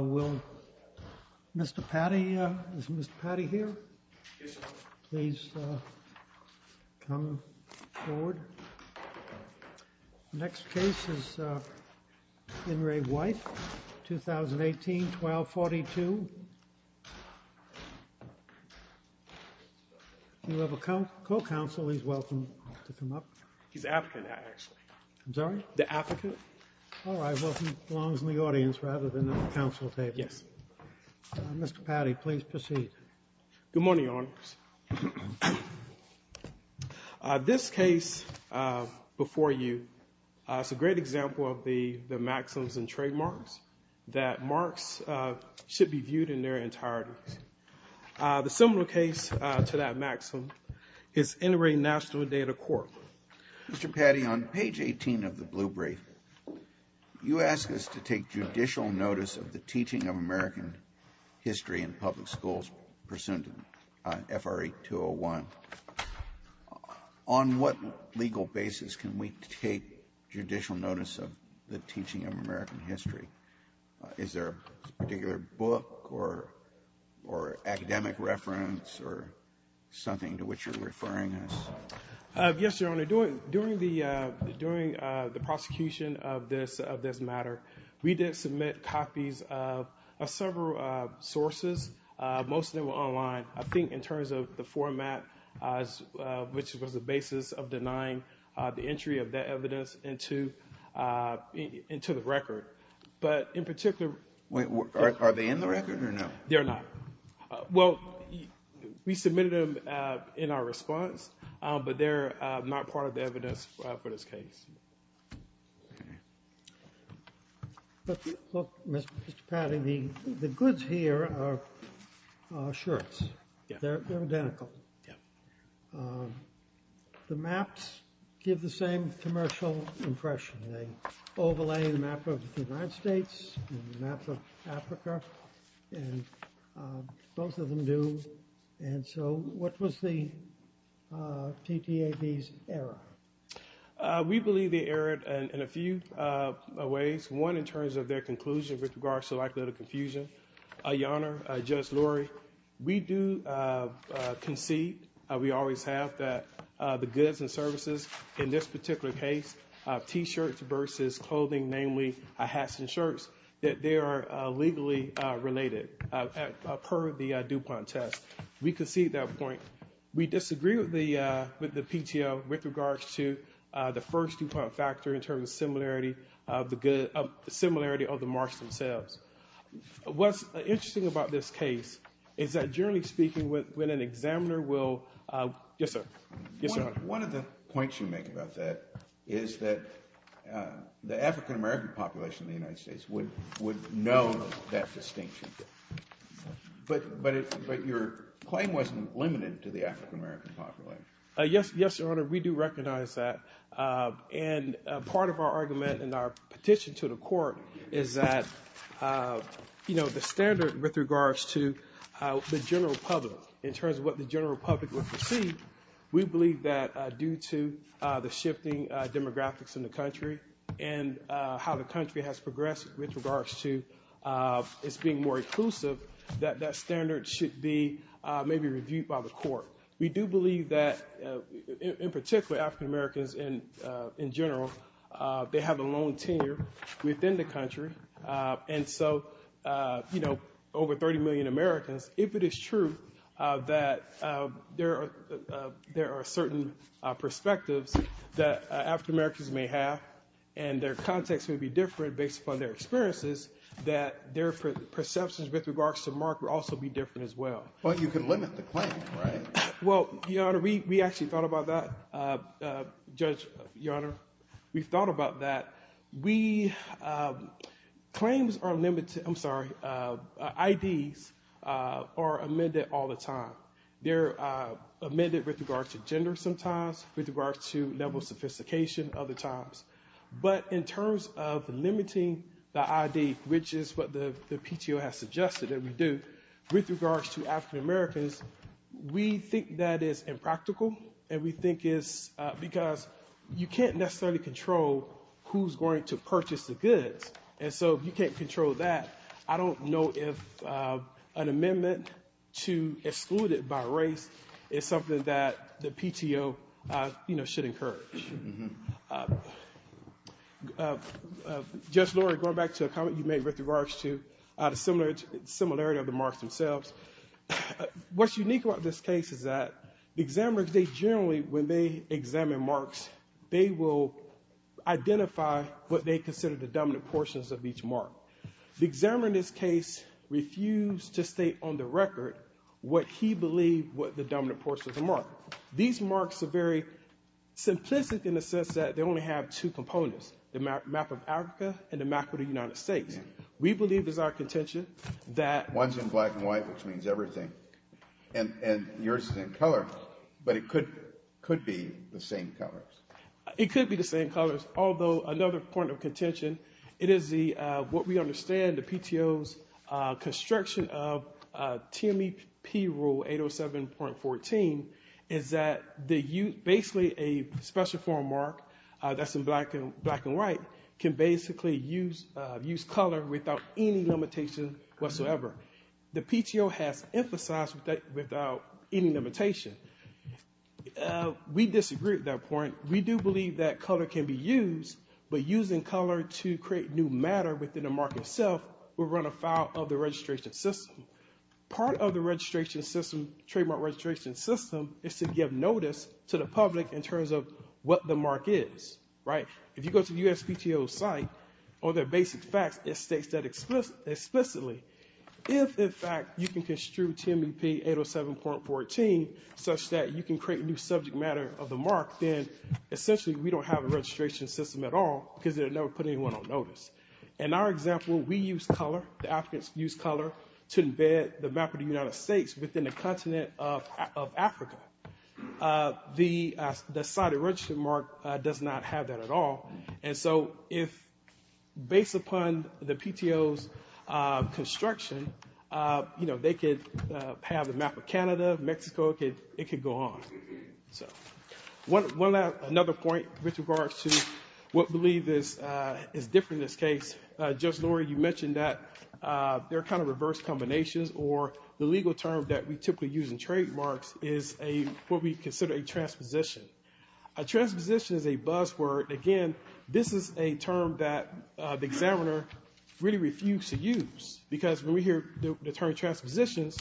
Will Mr. Patti, is Mr. Patti here? Yes, sir. Please come forward. Next case is In Re White, 2018-12-42. You have a co-counsel. He's welcome to come up. He's the applicant, actually. I'm sorry? The applicant. All right. Well, he belongs in the audience rather than at the council table. Yes. Mr. Patti, please proceed. Good morning, Your Honor. Good morning, Your Honor. This case before you is a great example of the maxims and trademarks that marks should be viewed in their entirety. The similar case to that maxim is In Re National Data Court. Mr. Patti, on page 18 of the blue brief, you ask us to take judicial notice of the teaching of American history in public schools pursuant to FRE 201. On what legal basis can we take judicial notice of the teaching of American history? Is there a particular book or academic reference or something to which you're referring us? Yes, Your Honor. During the prosecution of this matter, we did submit copies of several sources. Most of them were online. I think in terms of the format, which was the basis of denying the entry of that evidence into the record. But in particular— Are they in the record or no? They're not. Well, we submitted them in our response, but they're not part of the evidence for this case. Mr. Patti, the goods here are shirts. They're identical. The maps give the same commercial impression. They overlay the map of the United States and the map of Africa, and both of them do. And so what was the TTAB's error? We believe they erred in a few ways, one in terms of their conclusion with regards to likelihood of confusion. Your Honor, Judge Lurie, we do concede, we always have, that the goods and services in this particular case, T-shirts versus clothing, namely hats and shirts, that they are legally related per the DuPont test. We concede that point. We disagree with the PTO with regards to the first DuPont factor in terms of similarity of the marks themselves. What's interesting about this case is that, generally speaking, when an examiner will— Yes, sir. One of the points you make about that is that the African-American population in the United States would know that distinction. But your claim wasn't limited to the African-American population. Yes, Your Honor, we do recognize that. And part of our argument in our petition to the court is that, you know, the standard with regards to the general public, in terms of what the general public would perceive, we believe that due to the shifting demographics in the country and how the country has progressed with regards to its being more inclusive, that that standard should be maybe reviewed by the court. We do believe that, in particular, African-Americans in general, they have a long tenure within the country. And so, you know, over 30 million Americans, if it is true that there are certain perspectives that African-Americans may have and their context may be different based upon their experiences, that their perceptions with regards to mark would also be different as well. But you can limit the claim, right? Well, Your Honor, we actually thought about that. Judge, Your Honor, we've thought about that. Claims are limited, I'm sorry, IDs are amended all the time. They're amended with regards to gender sometimes, with regards to level of sophistication other times. But in terms of limiting the ID, which is what the PTO has suggested that we do, with regards to African-Americans, we think that is impractical and we think it's because you can't necessarily control who's going to purchase the goods. And so you can't control that. I don't know if an amendment to exclude it by race is something that the PTO should encourage. Judge Lurie, going back to a comment you made with regards to the similarity of the marks themselves, what's unique about this case is that the examiners, they generally, when they examine marks, they will identify what they consider the dominant portions of each mark. The examiner in this case refused to state on the record what he believed were the dominant portions of the mark. These marks are very simplistic in the sense that they only have two components, the map of Africa and the map of the United States. We believe it is our contention that- One's in black and white, which means everything. And yours is in color, but it could be the same colors. It could be the same colors, although another point of contention, it is what we understand the PTO's construction of TMEP Rule 807.14 is that basically a special form mark that's in black and white can basically use color without any limitation whatsoever. The PTO has emphasized that without any limitation. We disagree at that point. However, we do believe that color can be used, but using color to create new matter within a mark itself will run afoul of the registration system. Part of the registration system, trademark registration system, is to give notice to the public in terms of what the mark is. If you go to the USPTO site or their basic facts, it states that explicitly. If, in fact, you can construe TMEP 807.14 such that you can create a new subject matter of the mark, then essentially we don't have a registration system at all because it would never put anyone on notice. In our example, we use color. The Africans use color to embed the map of the United States within the continent of Africa. The site of registration mark does not have that at all. Based upon the PTO's construction, they could have the map of Canada, Mexico. It could go on. One other point with regards to what we believe is different in this case. Judge Laurie, you mentioned that there are kind of reverse combinations, or the legal term that we typically use in trademarks is what we consider a transposition. A transposition is a buzzword. Again, this is a term that the examiner really refuses to use because when we hear the term transpositions,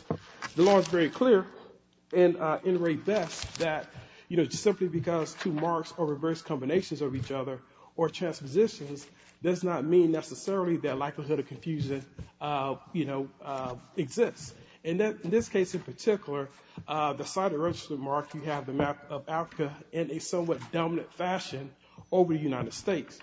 the law is very clear and very best that, you know, simply because two marks are reverse combinations of each other or transpositions does not mean necessarily that likelihood of confusion, you know, exists. In this case in particular, the site of registration mark, you have the map of Africa in a somewhat dominant fashion over the United States.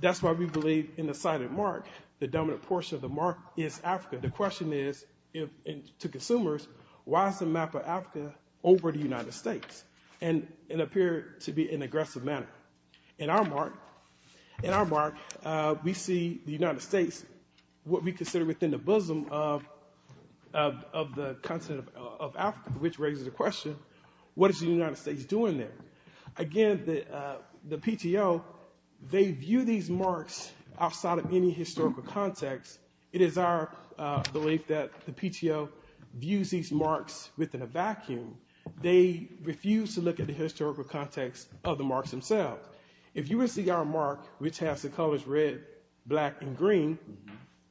That's why we believe in the site of mark, the dominant portion of the mark is Africa. The question is to consumers, why is the map of Africa over the United States? And it appeared to be in an aggressive manner. In our mark, we see the United States, what we consider within the bosom of the continent of Africa, which raises the question, what is the United States doing there? Again, the PTO, they view these marks outside of any historical context. It is our belief that the PTO views these marks within a vacuum. They refuse to look at the historical context of the marks themselves. If you were to see our mark, which has the colors red, black and green,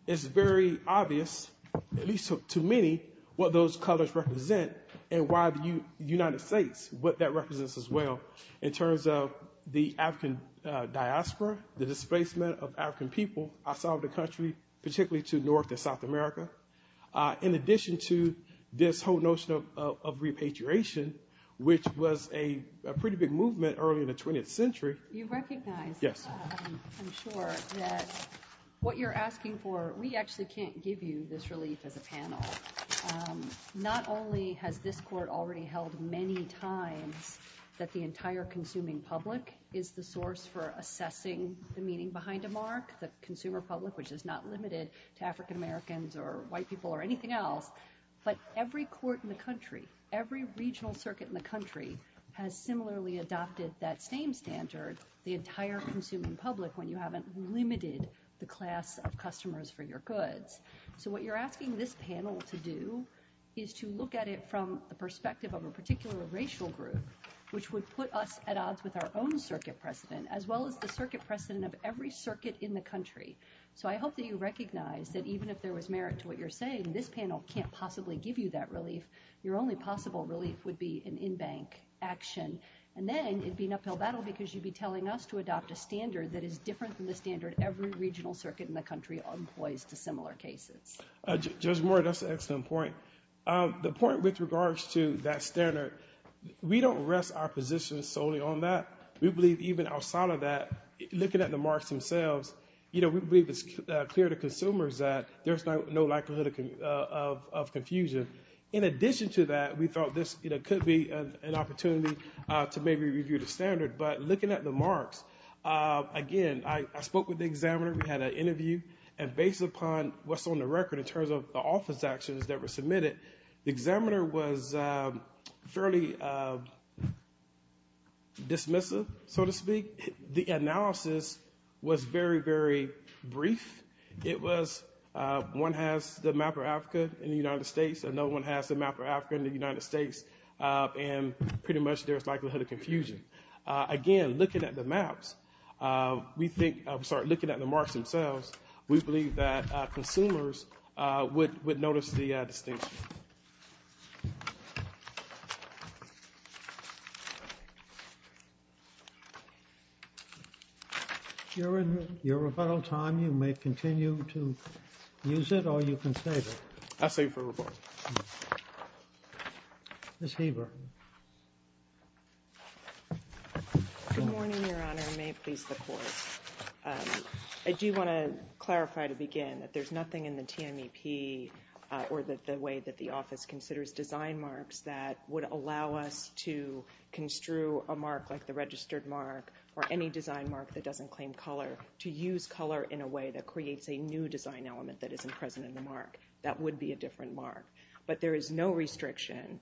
it's very obvious, at least to many, what those colors represent and why the United States, what that represents as well in terms of the African diaspora, the displacement of African people outside of the country, particularly to North and South America. In addition to this whole notion of repatriation, which was a pretty big movement early in the 20th century. You recognize, I'm sure, that what you're asking for, we actually can't give you this relief as a panel. Not only has this court already held many times that the entire consuming public is the source for assessing the meaning behind a mark, the consumer public, which is not limited to African Americans or white people or anything else, but every court in the country, every regional circuit in the country has similarly adopted that same standard, the entire consuming public, when you haven't limited the class of customers for your goods. So what you're asking this panel to do is to look at it from the perspective of a particular racial group, which would put us at odds with our own circuit precedent, as well as the circuit precedent of every circuit in the country. So I hope that you recognize that even if there was merit to what you're saying, this panel can't possibly give you that relief. Your only possible relief would be an in-bank action. And then it'd be an uphill battle because you'd be telling us to adopt a standard that is different than the standard every regional circuit in the country employs to similar cases. Judge Moore, that's an excellent point. The point with regards to that standard, we don't rest our positions solely on that. We believe even outside of that, looking at the marks themselves, you know, we believe it's clear to consumers that there's no likelihood of confusion. In addition to that, we thought this could be an opportunity to maybe review the standard. But looking at the marks, again, I spoke with the examiner. We had an interview. And based upon what's on the record in terms of the office actions that were submitted, the examiner was fairly dismissive, so to speak. The analysis was very, very brief. It was one has the map of Africa in the United States and no one has the map of Africa in the United States. And pretty much there's likelihood of confusion. Again, looking at the maps, we think, I'm sorry, looking at the marks themselves, we believe that consumers would notice the distinction. Your rebuttal time, you may continue to use it or you can save it. I'll save it for rebuttal. Ms. Haber. Good morning, Your Honor. May it please the Court. I do want to clarify to begin that there's nothing in the TMEP or the way that the office considers design marks that would allow us to construe a mark like the registered mark or any design mark that doesn't claim color to use color in a way that creates a new design element that isn't present in the mark. That would be a different mark. But there is no restriction,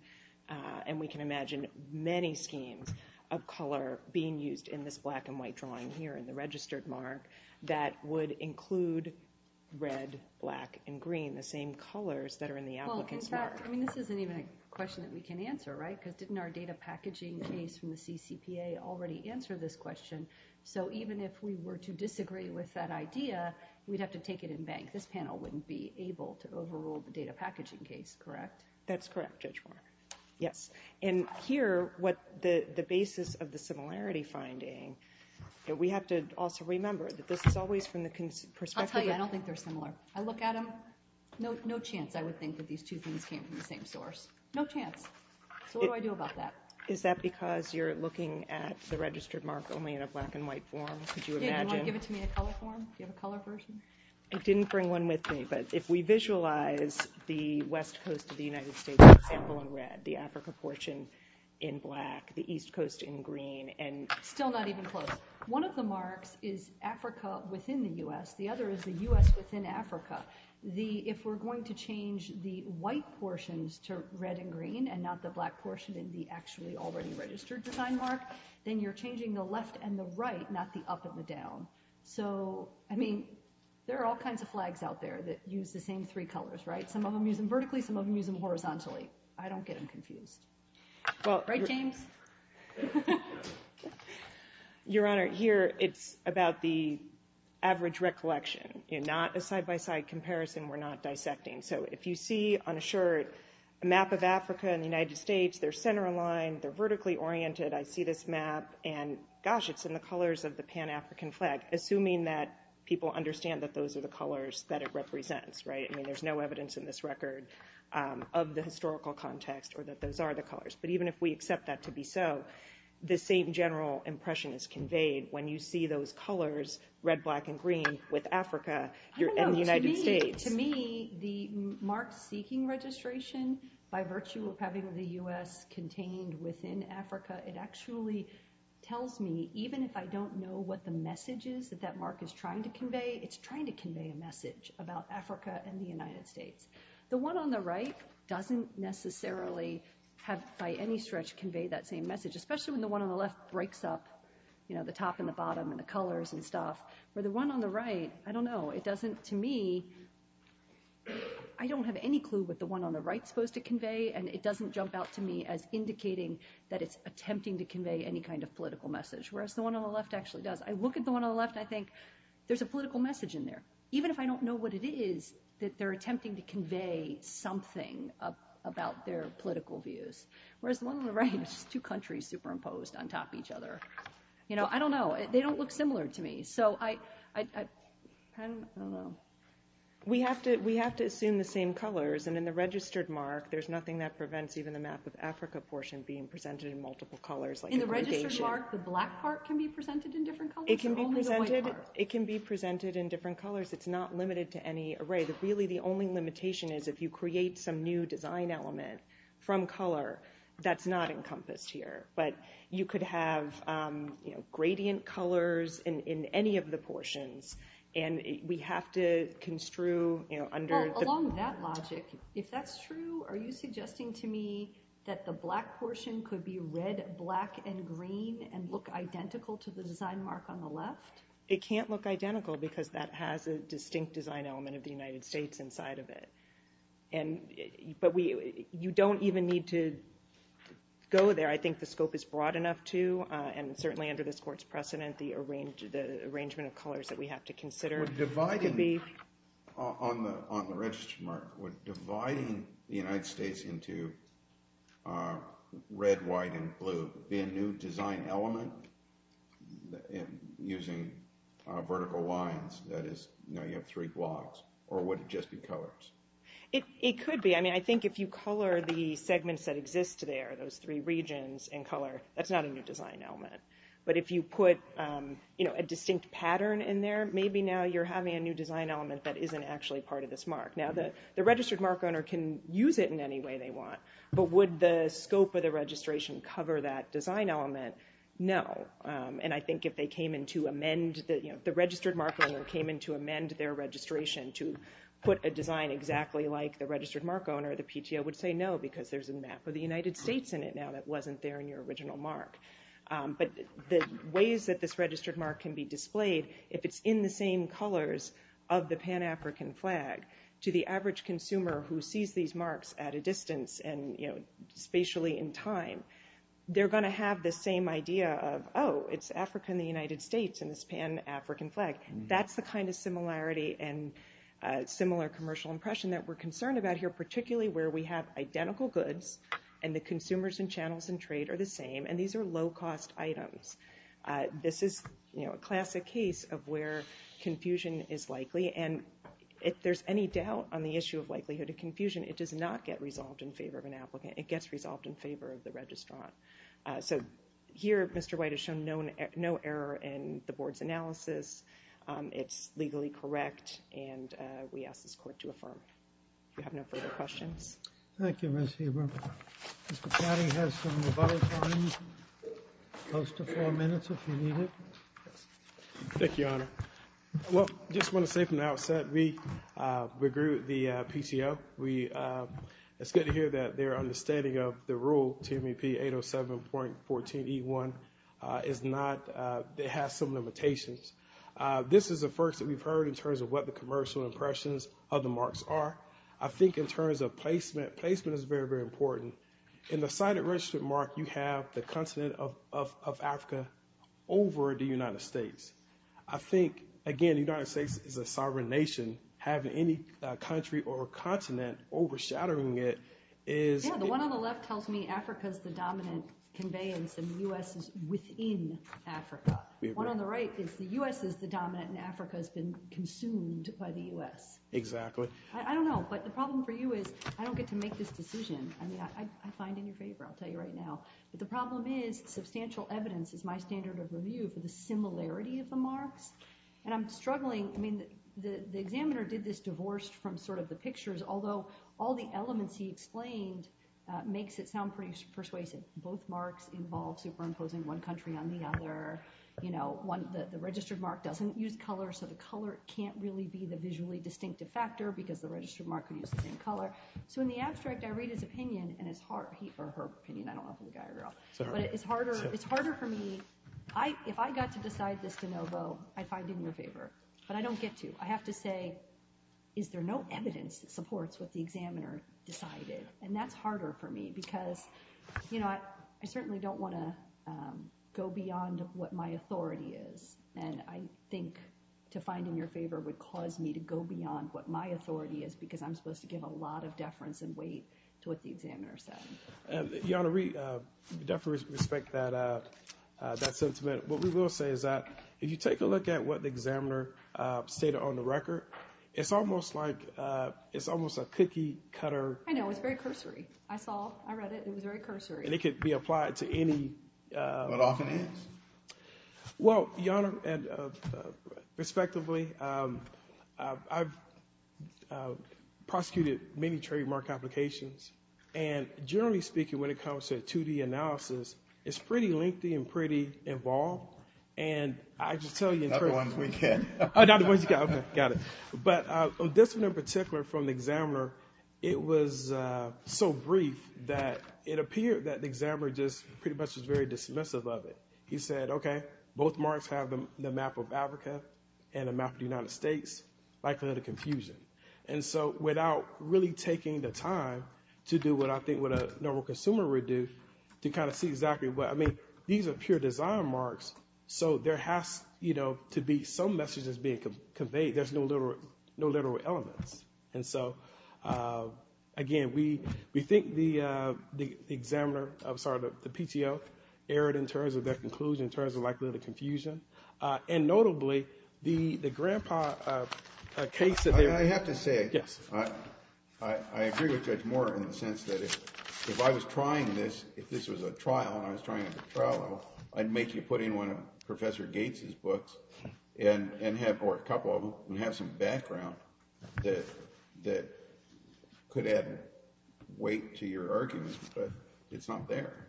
and we can imagine many schemes of color being used in this black and white drawing here in the registered mark that would include red, black, and green, the same colors that are in the applicant's mark. Well, in fact, I mean, this isn't even a question that we can answer, right? Because didn't our data packaging case from the CCPA already answer this question? So even if we were to disagree with that idea, we'd have to take it in bank. This panel wouldn't be able to overrule the data packaging case, correct? That's correct, Judge Moore. Yes. And here, what the basis of the similarity finding, we have to also remember that this is always from the perspective of— I'll tell you, I don't think they're similar. I look at them, no chance I would think that these two things came from the same source. No chance. So what do I do about that? Is that because you're looking at the registered mark only in a black and white form? Could you imagine— Yeah, do you want to give it to me in a color form? Do you have a color version? I didn't bring one with me, but if we visualize the west coast of the United States, for example, in red, the Africa portion in black, the east coast in green, and— Still not even close. One of the marks is Africa within the U.S. The other is the U.S. within Africa. If we're going to change the white portions to red and green and not the black portion in the actually already registered design mark, then you're changing the left and the right, not the up and the down. So, I mean, there are all kinds of flags out there that use the same three colors, right? Some of them use them vertically, some of them use them horizontally. I don't get them confused. Right, James? Your Honor, here, it's about the average recollection, not a side-by-side comparison. We're not dissecting. So, if you see on a shirt a map of Africa and the United States, they're center aligned, they're vertically oriented. I see this map, and gosh, it's in the colors of the Pan-African flag, assuming that people understand that those are the colors that it represents, right? I mean, there's no evidence in this record of the historical context or that those are the colors. But even if we accept that to be so, the same general impression is conveyed when you see those colors, red, black, and green, with Africa and the United States. To me, the mark-seeking registration, by virtue of having the U.S. contained within Africa, it actually tells me, even if I don't know what the message is that that mark is trying to convey, it's trying to convey a message about Africa and the United States. The one on the right doesn't necessarily have, by any stretch, convey that same message, especially when the one on the left breaks up the top and the bottom and the colors and stuff. But the one on the right, I don't know. It doesn't, to me, I don't have any clue what the one on the right is supposed to convey, and it doesn't jump out to me as indicating that it's attempting to convey any kind of political message, whereas the one on the left actually does. I look at the one on the left, and I think, there's a political message in there. Even if I don't know what it is, that they're attempting to convey something about their political views, whereas the one on the right is just two countries superimposed on top of each other. You know, I don't know. They don't look similar to me. So, I don't know. We have to assume the same colors, and in the registered mark, there's nothing that prevents even the map of Africa portion being presented in multiple colors. In the registered mark, the black part can be presented in different colors, or only the white part? It can be presented in different colors. It's not limited to any array. Really, the only limitation is, if you create some new design element from color, that's not encompassed here. But you could have, you know, gradient colors in any of the portions, and we have to construe, you know, under the... It can't look identical, because that has a distinct design element of the United States inside of it. But you don't even need to go there. I think the scope is broad enough to, and certainly under this court's precedent, the arrangement of colors that we have to consider. On the registered mark, would dividing the United States into red, white, and blue be a new design element? Using vertical lines, that is, now you have three blocks. Or would it just be colors? It could be. I mean, I think if you color the segments that exist there, those three regions in color, that's not a new design element. But if you put, you know, a distinct pattern in there, maybe now you're having a new design element that isn't actually part of this mark. Now, the registered mark owner can use it in any way they want, but would the scope of the registration cover that design element? No. And I think if they came in to amend, you know, the registered mark owner came in to amend their registration to put a design exactly like the registered mark owner, the PTO would say no, because there's a map of the United States in it now that wasn't there in your original mark. But the ways that this registered mark can be displayed, if it's in the same colors of the Pan-African flag, to the average consumer who sees these marks at a distance and, you know, spatially in time, they're going to have the same idea of, oh, it's Africa and the United States in this Pan-African flag. That's the kind of similarity and similar commercial impression that we're concerned about here, particularly where we have identical goods and the consumers and channels and trade are the same, and these are low-cost items. This is, you know, a classic case of where confusion is likely, and if there's any doubt on the issue of likelihood of confusion, it does not get resolved in favor of an applicant. It gets resolved in favor of the registrant. So here, Mr. White has shown no error in the board's analysis. It's legally correct, and we ask this court to affirm. If you have no further questions. Thank you, Ms. Haber. Mr. Platty has some rebuttal time, close to four minutes if you need it. Thank you, Your Honor. Well, I just want to say from the outset, we agree with the PTO. It's good to hear that their understanding of the rule, TMEP 807.14E1, is not, it has some limitations. This is the first that we've heard in terms of what the commercial impressions of the marks are. I think in terms of placement, placement is very, very important. In the sighted registrant mark, you have the continent of Africa over the United States. I think, again, the United States is a sovereign nation. Having any country or continent overshadowing it is. Yeah, the one on the left tells me Africa is the dominant conveyance, and the U.S. is within Africa. The one on the right is the U.S. is the dominant, and Africa has been consumed by the U.S. Exactly. I don't know, but the problem for you is I don't get to make this decision. I mean, I find in your favor, I'll tell you right now. But the problem is substantial evidence is my standard of review for the similarity of the marks, and I'm struggling. I mean, the examiner did this divorced from sort of the pictures, although all the elements he explained makes it sound pretty persuasive. Both marks involve superimposing one country on the other. The registered mark doesn't use color, so the color can't really be the visually distinctive factor because the registered mark uses the same color. So in the abstract, I read his opinion, or her opinion. I don't know if he's a guy or a girl. But it's harder for me. If I got to decide this de novo, I'd find it in your favor, but I don't get to. I have to say, is there no evidence that supports what the examiner decided? And that's harder for me because, you know, I certainly don't want to go beyond what my authority is. And I think to find in your favor would cause me to go beyond what my authority is because I'm supposed to give a lot of deference and weight to what the examiner said. Your Honor, we definitely respect that sentiment. What we will say is that if you take a look at what the examiner stated on the record, it's almost like it's almost a cookie cutter. I know, it's very cursory. I saw, I read it, it was very cursory. And it could be applied to any. What often is? Well, Your Honor, and respectively, I've prosecuted many trademark applications. And generally speaking, when it comes to a 2D analysis, it's pretty lengthy and pretty involved. And I can tell you in terms of. Not the ones we get. Oh, not the ones you got. Okay, got it. But this one in particular from the examiner, it was so brief that it appeared that the examiner just pretty much was very dismissive of it. He said, okay, both marks have the map of Africa and the map of the United States. Like a little confusion. And so without really taking the time to do what I think what a normal consumer would do to kind of see exactly what I mean, these are pure design marks. So there has to be some message that's being conveyed. There's no literal elements. And so, again, we think the examiner, I'm sorry, the PTO erred in terms of their conclusion, in terms of like a little confusion. And notably, the grandpa case. I have to say. Yes. I agree with Judge Moore in the sense that if I was trying this, if this was a trial and I was trying it at the trial level, I'd make you put in one of Professor Gates' books and have, or a couple of them, and have some background that could add weight to your argument. But it's not there.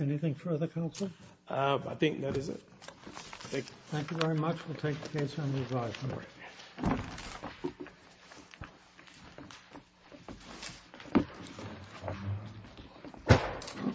Anything further, counsel? I think that is it. Thank you. Thank you very much. We'll take the case under review. All right.